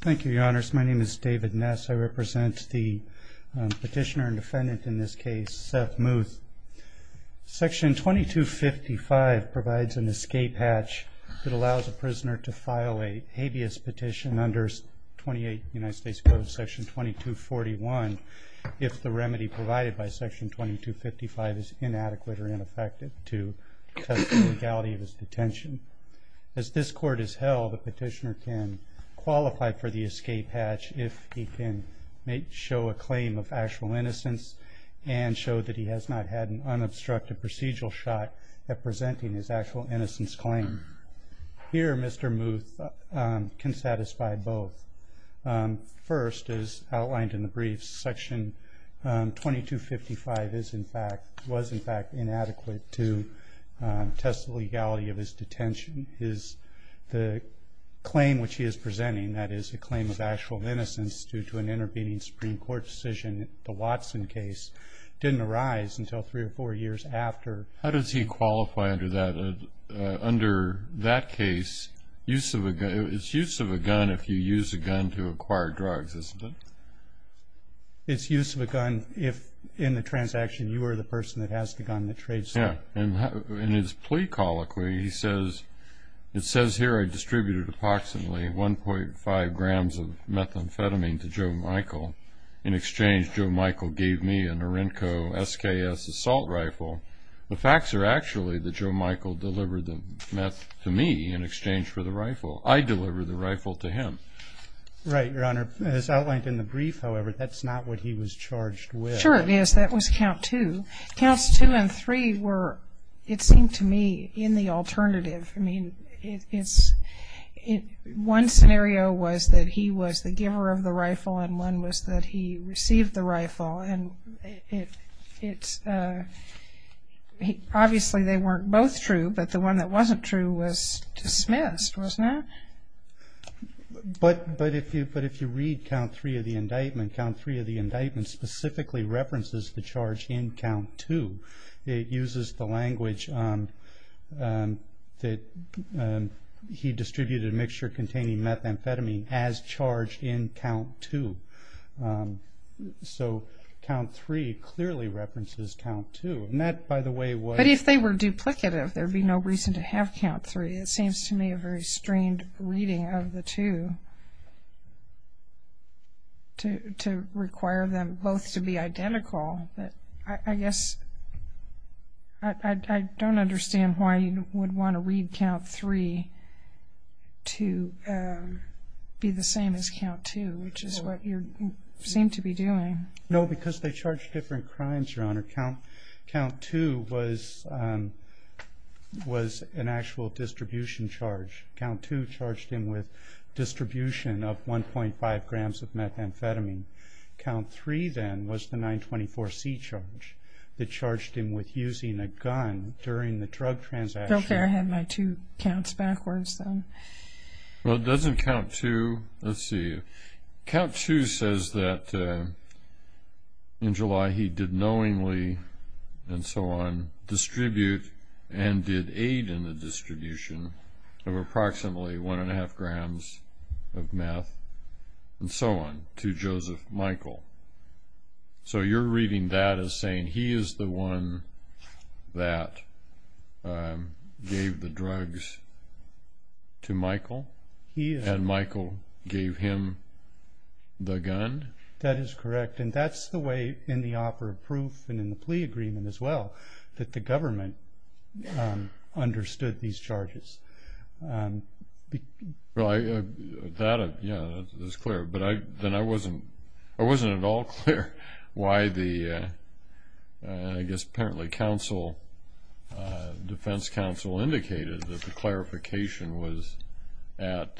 Thank you, your honors. My name is David Ness. I represent the petitioner and defendant in this case, Seth Muth. Section 2255 provides an escape hatch that allows a prisoner to file a habeas petition under 28 United States Code section 2241 if the remedy provided by section 2255 is inadequate or ineffective to test the legality of his detention. As this court has held, the petitioner can qualify for the escape hatch if he can show a claim of actual innocence and show that he has not had an unobstructed procedural shot at presenting his actual innocence claim. Here, Mr. Muth can satisfy both. First, as outlined in the brief, section 2255 was in fact inadequate to test the legality of his detention. The claim which he is presenting, that is a claim of actual innocence due to an intervening Supreme Court decision, the Watson case, didn't arise until three or four years after. How does he qualify under that case? It's use of a gun if you use a gun to acquire drugs, isn't it? It's use of a gun if, in the transaction, you are the person that has the gun that trades it. In his plea colloquy, it says here I distributed approximately 1.5 grams of methamphetamine to Joe Michael. In exchange, Joe Michael gave me a Norinco SKS assault rifle. The facts are actually that Joe Michael delivered the meth to me in exchange for the rifle. I delivered the rifle to him. Right, Your Honor. As outlined in the brief, however, that's not what he was charged with. Sure it is. That was count two. Counts two and three were, it seemed to me, in the alternative. I mean, one scenario was that he was the giver of the rifle and one was that he received the rifle. And obviously they weren't both true, but the one that wasn't true was dismissed, wasn't it? But if you read count three of the indictment, count three of the indictment specifically references the charge in count two. It uses the language that he distributed a mixture containing methamphetamine as charged in count two. So count three clearly references count two. And that, by the way, was- But if they were duplicative, there would be no reason to have count three. It seems to me a very strained reading of the two to require them both to be identical. But I guess I don't understand why you would want to read count three to be the same as count two, which is what you seem to be doing. No, because they charged different crimes, Your Honor. Count two was an actual distribution charge. Count two charged him with distribution of 1.5 grams of methamphetamine. Count three, then, was the 924C charge that charged him with using a gun during the drug transaction. Okay, I had my two counts backwards, then. Well, it doesn't count two. Let's see. Count two says that in July he did knowingly and so on distribute and did aid in the distribution of approximately 1.5 grams of meth and so on to Joseph Michael. So you're reading that as saying he is the one that gave the drugs to Michael? And Michael gave him the gun? That is correct. And that's the way in the offer of proof and in the plea agreement as well that the government understood these charges. Well, that is clear. But then I wasn't at all clear why the, I guess, apparently defense counsel indicated that the clarification was at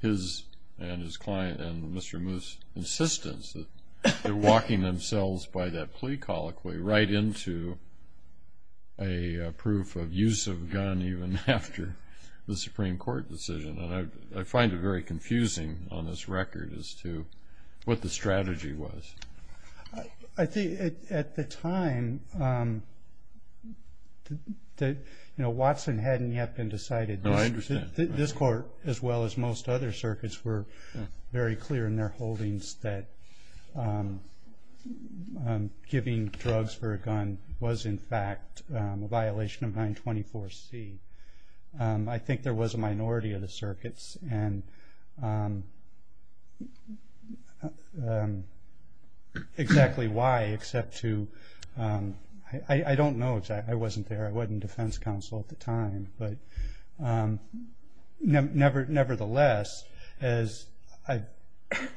his and his client and Mr. Moose's insistence that they're walking themselves by that plea colloquy right into a proof of use of a gun even after the Supreme Court decision. And I find it very confusing on this record as to what the strategy was. I think at the time, you know, Watson hadn't yet been decided. No, I understand. This court as well as most other circuits were very clear in their holdings that giving drugs for a gun was in fact a violation of 924C. I think there was a minority of the circuits and exactly why except to, I don't know, I wasn't there. But nevertheless, as I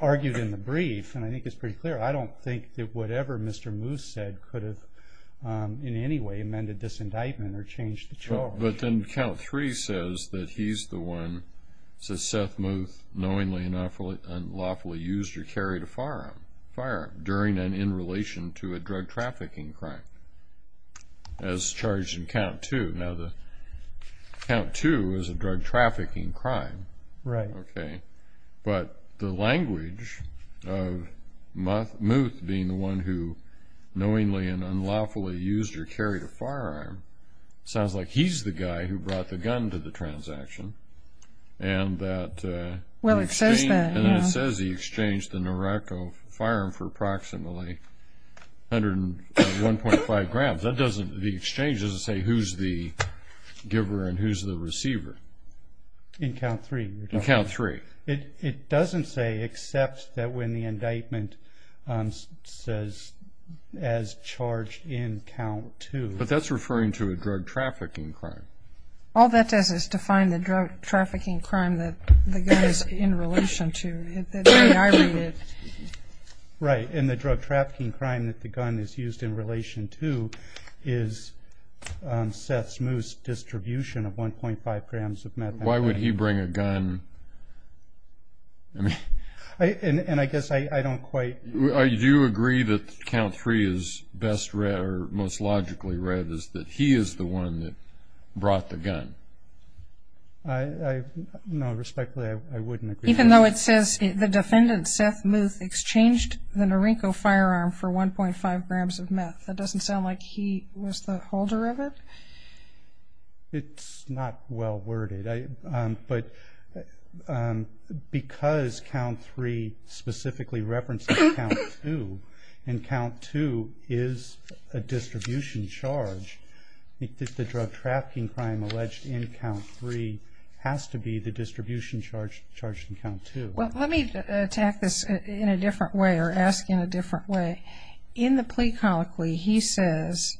argued in the brief, and I think it's pretty clear, I don't think that whatever Mr. Moose said could have in any way amended this indictment or changed the charge. But then Count 3 says that he's the one, says Seth Mooth knowingly and unlawfully used or carried a firearm during and in relation to a drug trafficking crime as charged in Count 2. Now, the Count 2 is a drug trafficking crime. Right. Okay. But the language of Mooth being the one who knowingly and unlawfully used or carried a firearm sounds like he's the guy who brought the gun to the transaction and that... Well, it says that, yeah. And it says he exchanged the Naracco firearm for approximately 1.5 grams. That doesn't, the exchange doesn't say who's the giver and who's the receiver. In Count 3. In Count 3. It doesn't say except that when the indictment says as charged in Count 2. But that's referring to a drug trafficking crime. All that does is define the drug trafficking crime that the gun is in relation to. That's the way I read it. Right. And the drug trafficking crime that the gun is used in relation to is Seth Moose's distribution of 1.5 grams of methamphetamine. Why would he bring a gun? And I guess I don't quite... Do you agree that Count 3 is best read or most logically read is that he is the one that brought the gun? No, respectfully, I wouldn't agree. Even though it says the defendant, Seth Moose, exchanged the Naracco firearm for 1.5 grams of meth. That doesn't sound like he was the holder of it? It's not well worded. But because Count 3 specifically references Count 2 and Count 2 is a distribution charge, the drug trafficking crime alleged in Count 3 has to be the distribution charged in Count 2. Well, let me attack this in a different way or ask in a different way. In the plea colloquy, he says,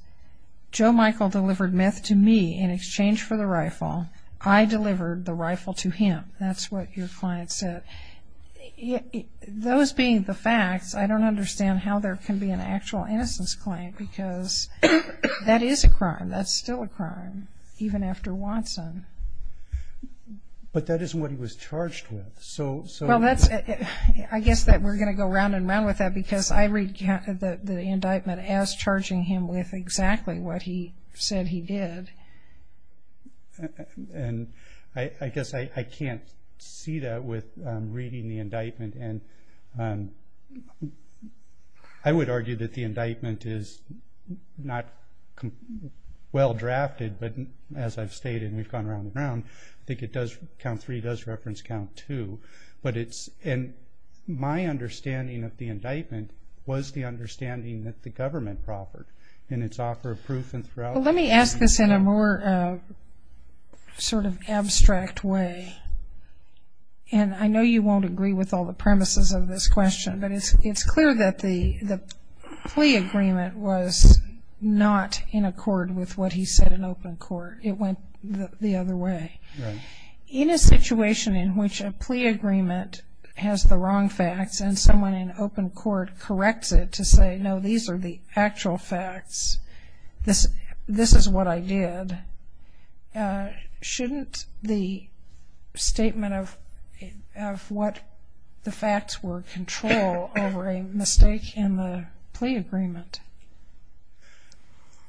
Joe Michael delivered meth to me in exchange for the rifle. I delivered the rifle to him. That's what your client said. Those being the facts, I don't understand how there can be an actual innocence claim because that is a crime. That's still a crime, even after Watson. But that isn't what he was charged with. I guess that we're going to go round and round with that because I read the indictment as charging him with exactly what he said he did. I guess I can't see that with reading the indictment. I would argue that the indictment is not well drafted, but as I've stated, and we've gone round and round, I think Count 3 does reference Count 2. My understanding of the indictment was the understanding that the government proffered in its offer of proof and throughout. Well, let me ask this in a more sort of abstract way. I know you won't agree with all the premises of this question, but it's clear that the plea agreement was not in accord with what he said in open court. It went the other way. Right. In a situation in which a plea agreement has the wrong facts and someone in open court corrects it to say, no, these are the actual facts, this is what I did, shouldn't the statement of what the facts were control over a mistake in the plea agreement?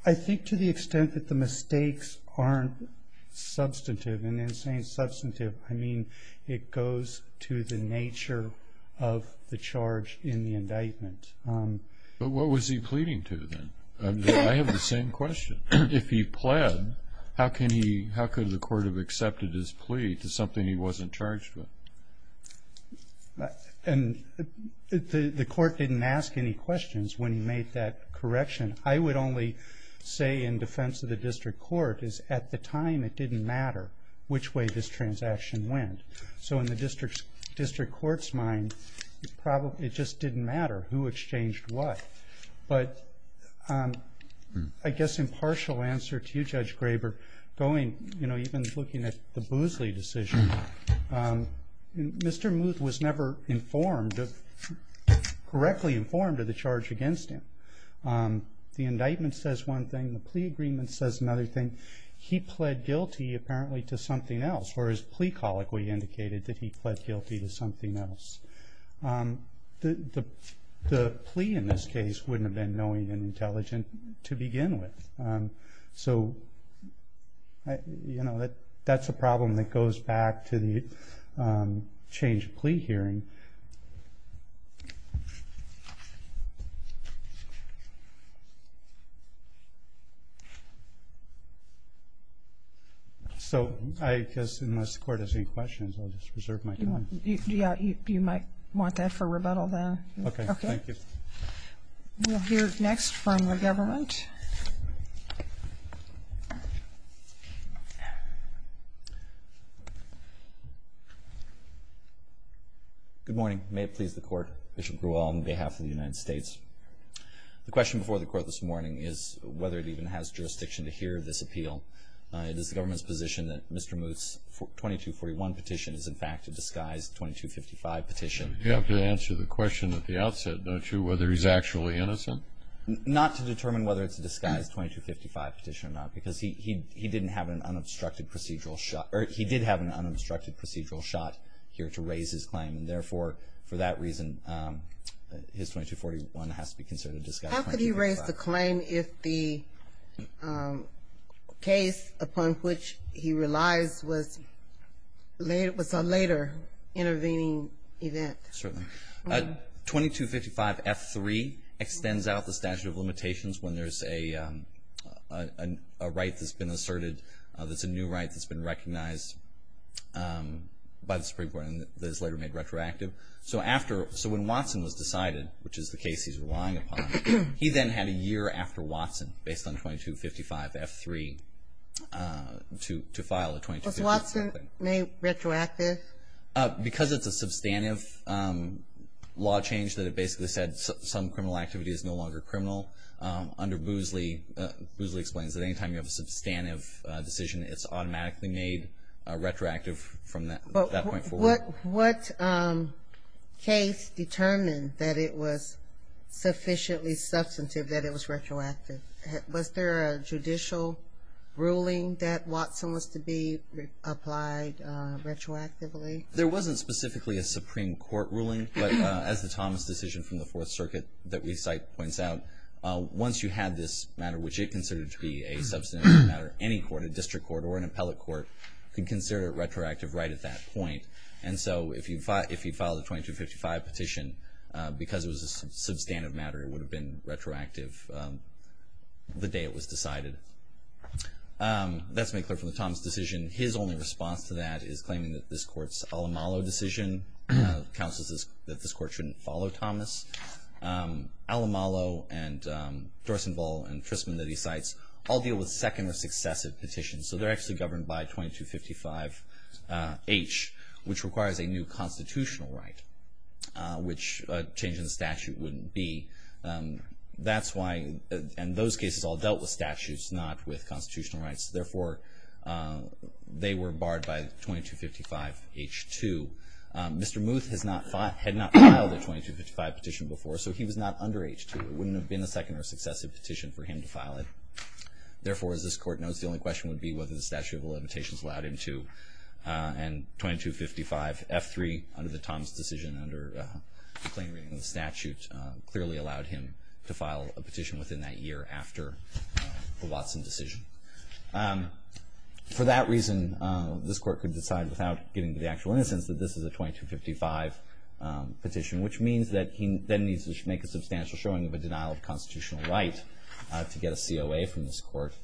I think to the extent that the mistakes aren't substantive, and in saying substantive, I mean it goes to the nature of the charge in the indictment. But what was he pleading to then? I have the same question. If he pled, how could the court have accepted his plea to something he wasn't charged with? And the court didn't ask any questions when he made that correction. I would only say in defense of the district court is at the time it didn't matter which way this transaction went. So in the district court's mind, it just didn't matter who exchanged what. But I guess impartial answer to you, Judge Graber, even looking at the Boozley decision, Mr. Muth was never correctly informed of the charge against him. The indictment says one thing, the plea agreement says another thing. He pled guilty apparently to something else, whereas plea colloquy indicated that he pled guilty to something else. The plea in this case wouldn't have been knowing and intelligent to begin with. So that's a problem that goes back to the change of plea hearing. So I guess unless the court has any questions, I'll just preserve my time. Yeah, you might want that for rebuttal then. Okay, thank you. We'll hear next from the government. Good morning. May it please the court, Bishop Grewal on behalf of the United States. The question before the court this morning is whether it even has jurisdiction to hear this appeal. It is the government's position that Mr. Muth's 2241 petition is in fact a disguised 2255 petition. You have to answer the question at the outset, don't you, whether he's actually innocent? Not to determine whether it's a disguised 2255 petition or not, because he did have an unobstructed procedural shot here to raise his claim. And therefore, for that reason, his 2241 has to be considered a disguised 2255. How could he raise the claim if the case upon which he relies was a later intervening event? Certainly. 2255F3 extends out the statute of limitations when there's a right that's been asserted that's a new right that's been recognized by the Supreme Court and is later made retroactive. So when Watson was decided, which is the case he's relying upon, he then had a year after Watson based on 2255F3 to file a 2255. Was Watson made retroactive? Because it's a substantive law change that it basically said some criminal activity is no longer criminal. Under Boozley, Boozley explains that any time you have a substantive decision, it's automatically made retroactive from that point forward. What case determined that it was sufficiently substantive that it was retroactive? Was there a judicial ruling that Watson was to be applied retroactively? There wasn't specifically a Supreme Court ruling, but as the Thomas decision from the Fourth Circuit that we cite points out, once you had this matter, which it considered to be a substantive matter, any court, a district court or an appellate court, could consider it retroactive right at that point. And so if he filed a 2255 petition because it was a substantive matter, it would have been retroactive the day it was decided. Let's make clear from the Thomas decision, his only response to that is claiming that this court's Alamalo decision counsels that this court shouldn't follow Thomas. Alamalo and Dorsenvall and Trisman that he cites all deal with second or successive petitions. So they're actually governed by 2255H, which requires a new constitutional right, which a change in the statute wouldn't be. That's why in those cases all dealt with statutes, not with constitutional rights. Therefore, they were barred by 2255H2. Mr. Muth had not filed a 2255 petition before, so he was not under H2. It wouldn't have been a second or successive petition for him to file it. Therefore, as this court knows, the only question would be whether the statute of limitations allowed him to. And 2255F3, under the Thomas decision, under the plain reading of the statute, clearly allowed him to file a petition within that year after the Watson decision. For that reason, this court could decide without getting to the actual innocence that this is a 2255 petition, which means that he then needs to make a substantial showing of a denial of constitutional right to get a COA from this court.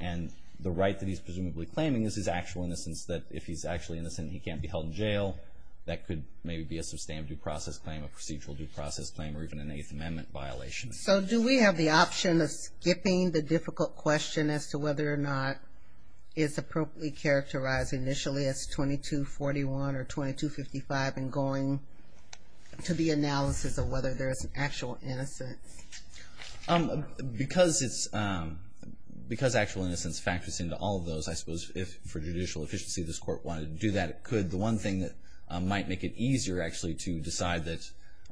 And the right that he's presumably claiming is his actual innocence, that if he's actually innocent he can't be held in jail. That could maybe be a sustained due process claim, a procedural due process claim, or even an Eighth Amendment violation. So do we have the option of skipping the difficult question as to whether or not it's appropriately characterized initially as 2241 or 2255 and going to the analysis of whether there's actual innocence? Because actual innocence factors into all of those, I suppose, if for judicial efficiency this court wanted to do that, it could. The one thing that might make it easier actually to decide that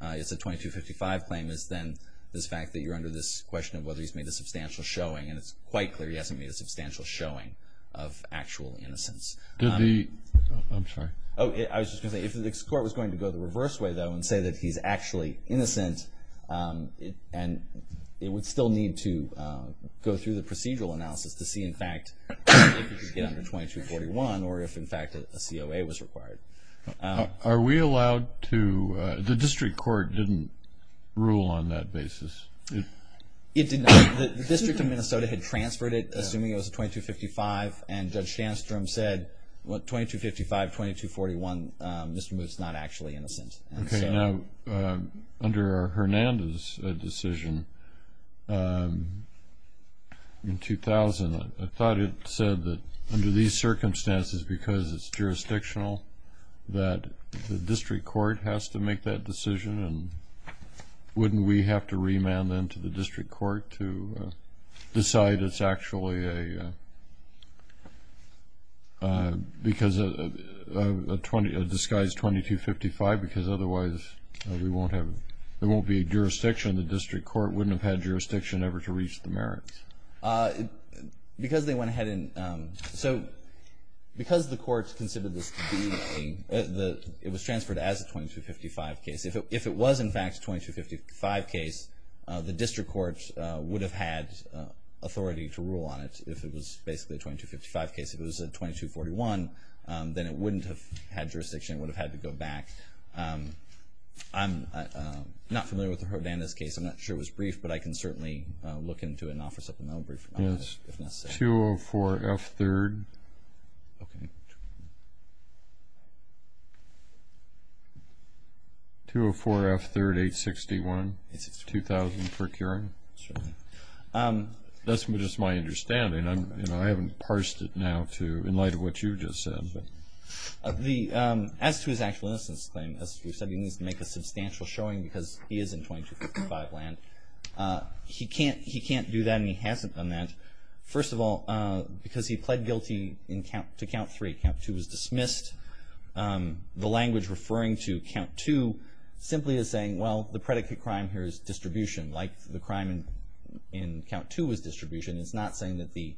it's a 2255 claim is then this fact that you're under this question of whether he's made a substantial showing, and it's quite clear he hasn't made a substantial showing of actual innocence. I was just going to say, if this court was going to go the reverse way, though, and say that he's actually innocent, it would still need to go through the procedural analysis to see, in fact, if he could get under 2241 or if, in fact, a COA was required. Are we allowed to – the district court didn't rule on that basis? It did not. The District of Minnesota had transferred it, assuming it was a 2255, and Judge Sandstrom said, well, 2255, 2241, Mr. Moot's not actually innocent. Okay. Now, under Hernandez's decision in 2000, I thought it said that under these circumstances, because it's jurisdictional, that the district court has to make that decision, and wouldn't we have to remand them to the district court to decide it's actually a – because a disguised 2255, because otherwise we won't have – there won't be a jurisdiction. The district court wouldn't have had jurisdiction ever to reach the merits. Because they went ahead and – so because the courts considered this to be a – it was transferred as a 2255 case, if it was, in fact, a 2255 case, the district court would have had authority to rule on it if it was basically a 2255 case. If it was a 2241, then it wouldn't have had jurisdiction. It would have had to go back. I'm not familiar with the Hernandez case. I'm not sure it was briefed, but I can certainly look into it and offer something else. Yes. If necessary. 204 F3rd. Okay. 204 F3rd 861. 861. 2000 procuring. Certainly. That's just my understanding. I haven't parsed it now to – in light of what you just said. As to his actual innocence claim, as we've said, he needs to make a substantial showing because he is in 2255 land. He can't do that and he hasn't done that. First of all, because he pled guilty to count three. Count two was dismissed. The language referring to count two simply is saying, well, the predicate crime here is distribution, like the crime in count two was distribution. It's not saying that the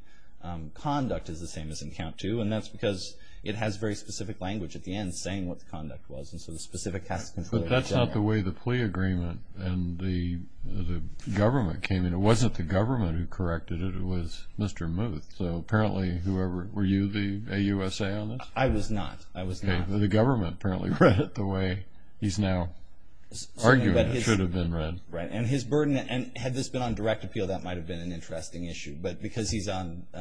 conduct is the same as in count two. And that's because it has very specific language at the end saying what the conduct was, and so the specific cast of control is there. But that's not the way the plea agreement and the government came in. It wasn't the government who corrected it. It was Mr. Muth. So apparently whoever – were you the AUSA on this? I was not. I was not. The government apparently read it the way he's now arguing it should have been read. Right. And his burden – and had this been on direct appeal, that might have been an interesting issue. But because he's on –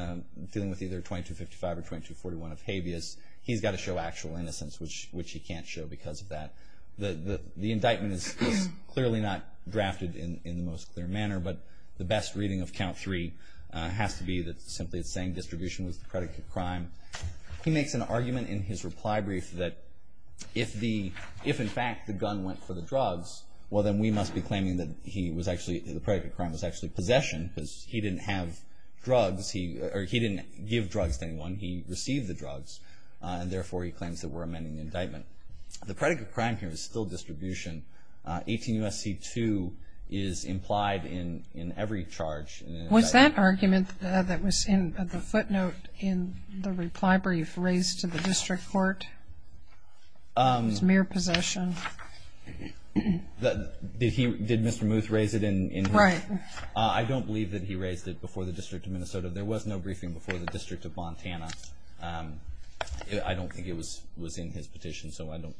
dealing with either 2255 or 2241 of habeas, he's got to show actual innocence, which he can't show because of that. The indictment is clearly not drafted in the most clear manner, but the best reading of count three has to be that simply it's saying distribution was the predicate crime. He makes an argument in his reply brief that if in fact the gun went for the drugs, well, then we must be claiming that he was actually – or he didn't give drugs to anyone. He received the drugs, and therefore he claims that we're amending the indictment. The predicate crime here is still distribution. 18 U.S.C. 2 is implied in every charge. Was that argument that was in the footnote in the reply brief raised to the district court? It was mere possession. Did he – did Mr. Muth raise it in – Right. I don't believe that he raised it before the District of Minnesota. There was no briefing before the District of Montana. I don't think it was in his petition, so I don't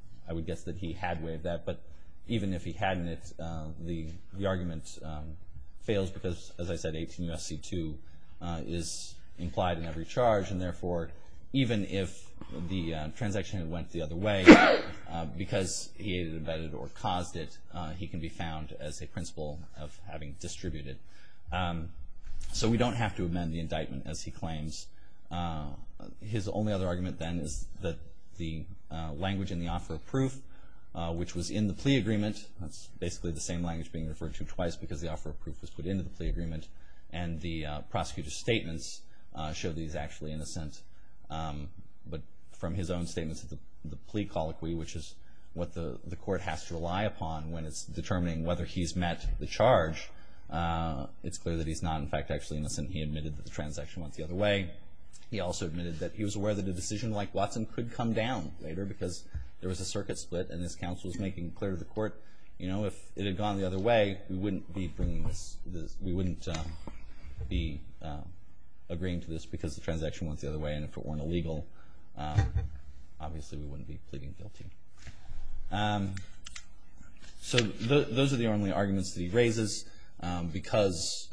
– I would guess that he had waived that. But even if he hadn't, the argument fails because, as I said, 18 U.S.C. 2 is implied in every charge, and therefore even if the transaction went the other way, because he had abetted or caused it, he can be found as a principal of having distributed. So we don't have to amend the indictment, as he claims. His only other argument, then, is that the language in the offer of proof, which was in the plea agreement – that's basically the same language being referred to twice because the offer of proof was put into the plea agreement – and the prosecutor's statements show that he's actually innocent. But from his own statements at the plea colloquy, which is what the court has to rely upon when it's determining whether he's met the charge, it's clear that he's not, in fact, actually innocent. He admitted that the transaction went the other way. He also admitted that he was aware that a decision like Watson could come down later because there was a circuit split and this counsel was making clear to the court, you know, if it had gone the other way, we wouldn't be bringing this – we wouldn't be agreeing to this because the transaction went the other way and if it weren't illegal, obviously we wouldn't be pleading guilty. So those are the only arguments that he raises. Because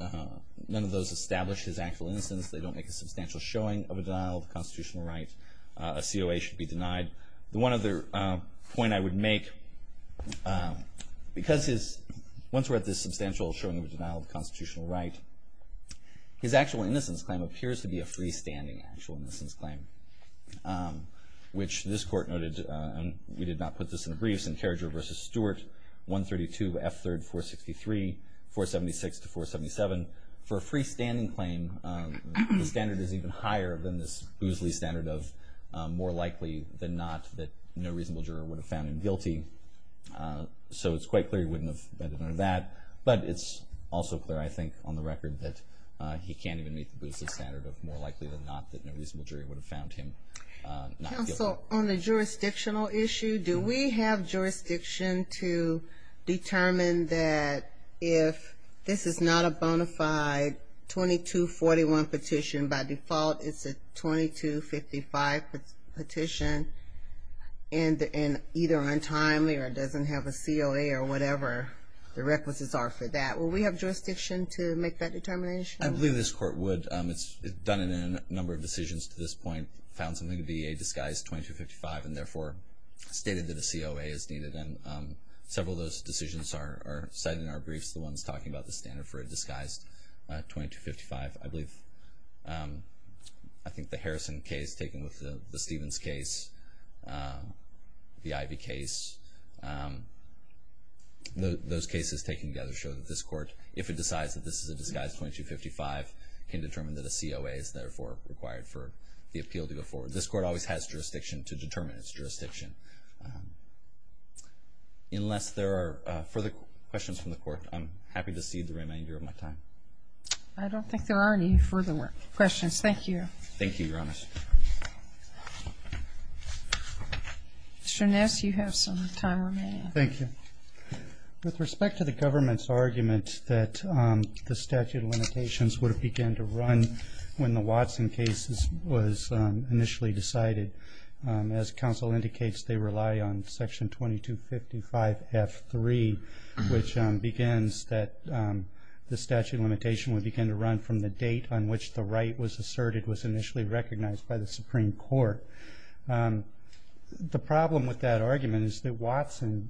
none of those establish his actual innocence, they don't make a substantial showing of a denial of constitutional right. A COA should be denied. The one other point I would make, because his – he doesn't make a showing of a denial of constitutional right, his actual innocence claim appears to be a freestanding actual innocence claim, which this court noted, and we did not put this in the briefs, in Carriager v. Stewart, 132 F. 3rd 463, 476 to 477. For a freestanding claim, the standard is even higher than this boosley standard of more likely than not that no reasonable juror would have found him guilty. So it's quite clear he wouldn't have done that, but it's also clear, I think, on the record that he can't even meet the boosley standard of more likely than not that no reasonable juror would have found him not guilty. Counsel, on the jurisdictional issue, do we have jurisdiction to determine that if this is not a bona fide 2241 petition, by default it's a 2255 petition, and either untimely or doesn't have a COA or whatever the requisites are for that. Will we have jurisdiction to make that determination? I believe this court would. It's done it in a number of decisions to this point, found something to be a disguised 2255, and therefore stated that a COA is needed. And several of those decisions are cited in our briefs, the ones talking about the standard for a disguised 2255. I believe I think the Harrison case taken with the Stevens case, the Ivey case, those cases taken together show that this court, if it decides that this is a disguised 2255, can determine that a COA is therefore required for the appeal to go forward. Unless there are further questions from the court, I'm happy to cede the remainder of my time. I don't think there are any further questions. Thank you. Thank you, Your Honor. Mr. Ness, you have some time remaining. Thank you. With respect to the government's argument that the statute of limitations would have begun to run when the Watson case was initially decided, as counsel indicates they rely on Section 2255F3, which begins that the statute of limitation would begin to run from the date on which the right was asserted was initially recognized by the Supreme Court. The problem with that argument is that Watson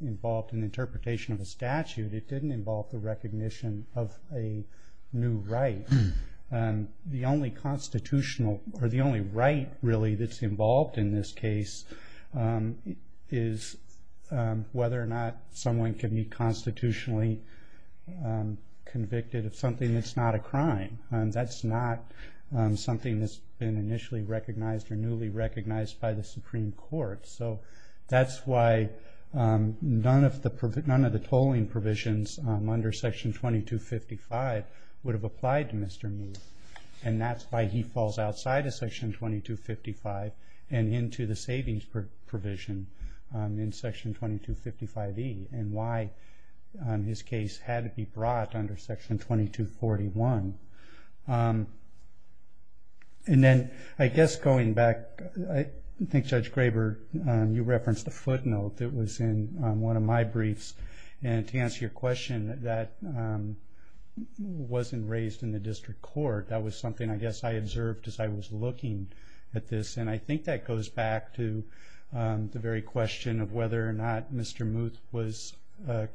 involved an interpretation of a statute. It didn't involve the recognition of a new right. The only constitutional or the only right really that's involved in this case is whether or not someone can be constitutionally convicted of something that's not a crime. That's not something that's been initially recognized or newly recognized by the Supreme Court. That's why none of the tolling provisions under Section 2255 would have applied to Mr. Meath. That's why he falls outside of Section 2255 and into the savings provision in Section 2255E and why his case had to be brought under Section 2241. Then I guess going back, I think Judge Graber, you referenced a footnote that was in one of my briefs. To answer your question, that wasn't raised in the district court. That was something I guess I observed as I was looking at this. I think that goes back to the very question of whether or not Mr. Meath was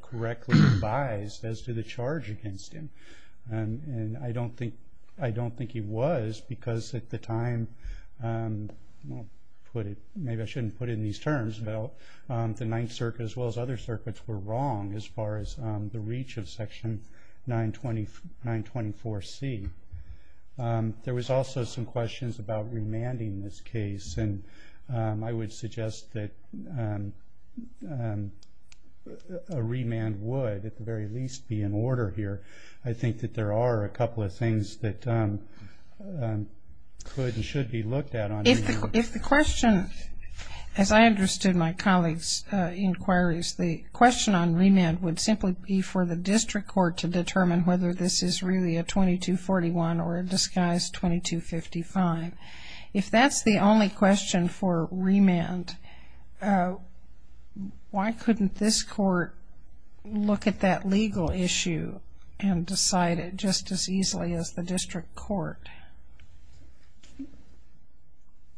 correctly advised as to the charge against him. I don't think he was because at the time, maybe I shouldn't put it in these terms, but the Ninth Circuit as well as other circuits were wrong as far as the reach of Section 924C. There was also some questions about remanding this case. I would suggest that a remand would at the very least be in order here. I think that there are a couple of things that could and should be looked at. If the question, as I understood my colleague's inquiries, the question on remand would simply be for the district court to determine whether this is really a 2241 or a disguised 2255. If that's the only question for remand, why couldn't this court look at that legal issue and decide it just as easily as the district court?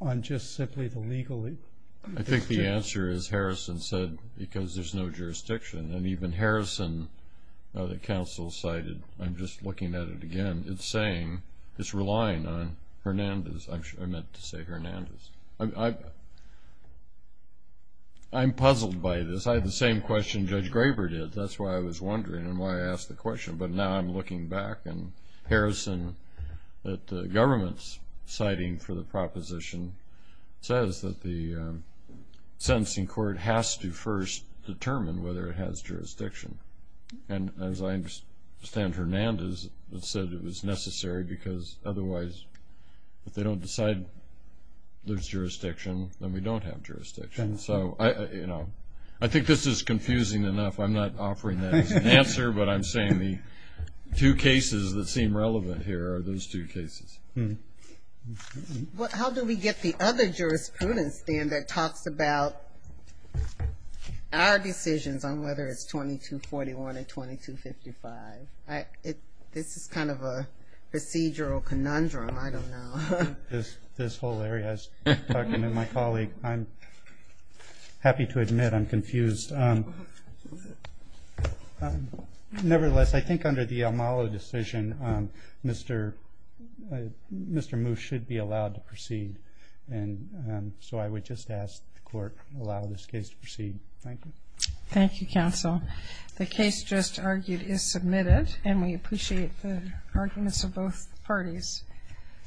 On just simply the legal issue? I think the answer is Harrison said because there's no jurisdiction. And even Harrison, the counsel cited, I'm just looking at it again, it's saying it's relying on Hernandez. I meant to say Hernandez. I'm puzzled by this. I had the same question Judge Graber did. That's why I was wondering and why I asked the question. But now I'm looking back and Harrison at the government's citing for the proposition says that the sentencing court has to first determine whether it has jurisdiction. And as I understand, Hernandez said it was necessary because otherwise if they don't decide there's jurisdiction, then we don't have jurisdiction. So, you know, I think this is confusing enough. I'm not offering that as an answer, but I'm saying the two cases that seem relevant here are those two cases. Well, how do we get the other jurisprudence then that talks about our decisions on whether it's 2241 and 2255? This is kind of a procedural conundrum. I don't know. This whole area is talking to my colleague. I'm happy to admit I'm confused. Nevertheless, I think under the Almalo decision, Mr. Moos should be allowed to proceed. And so I would just ask the court to allow this case to proceed. Thank you. Thank you, counsel. The case just argued is submitted and we appreciate the arguments of both parties.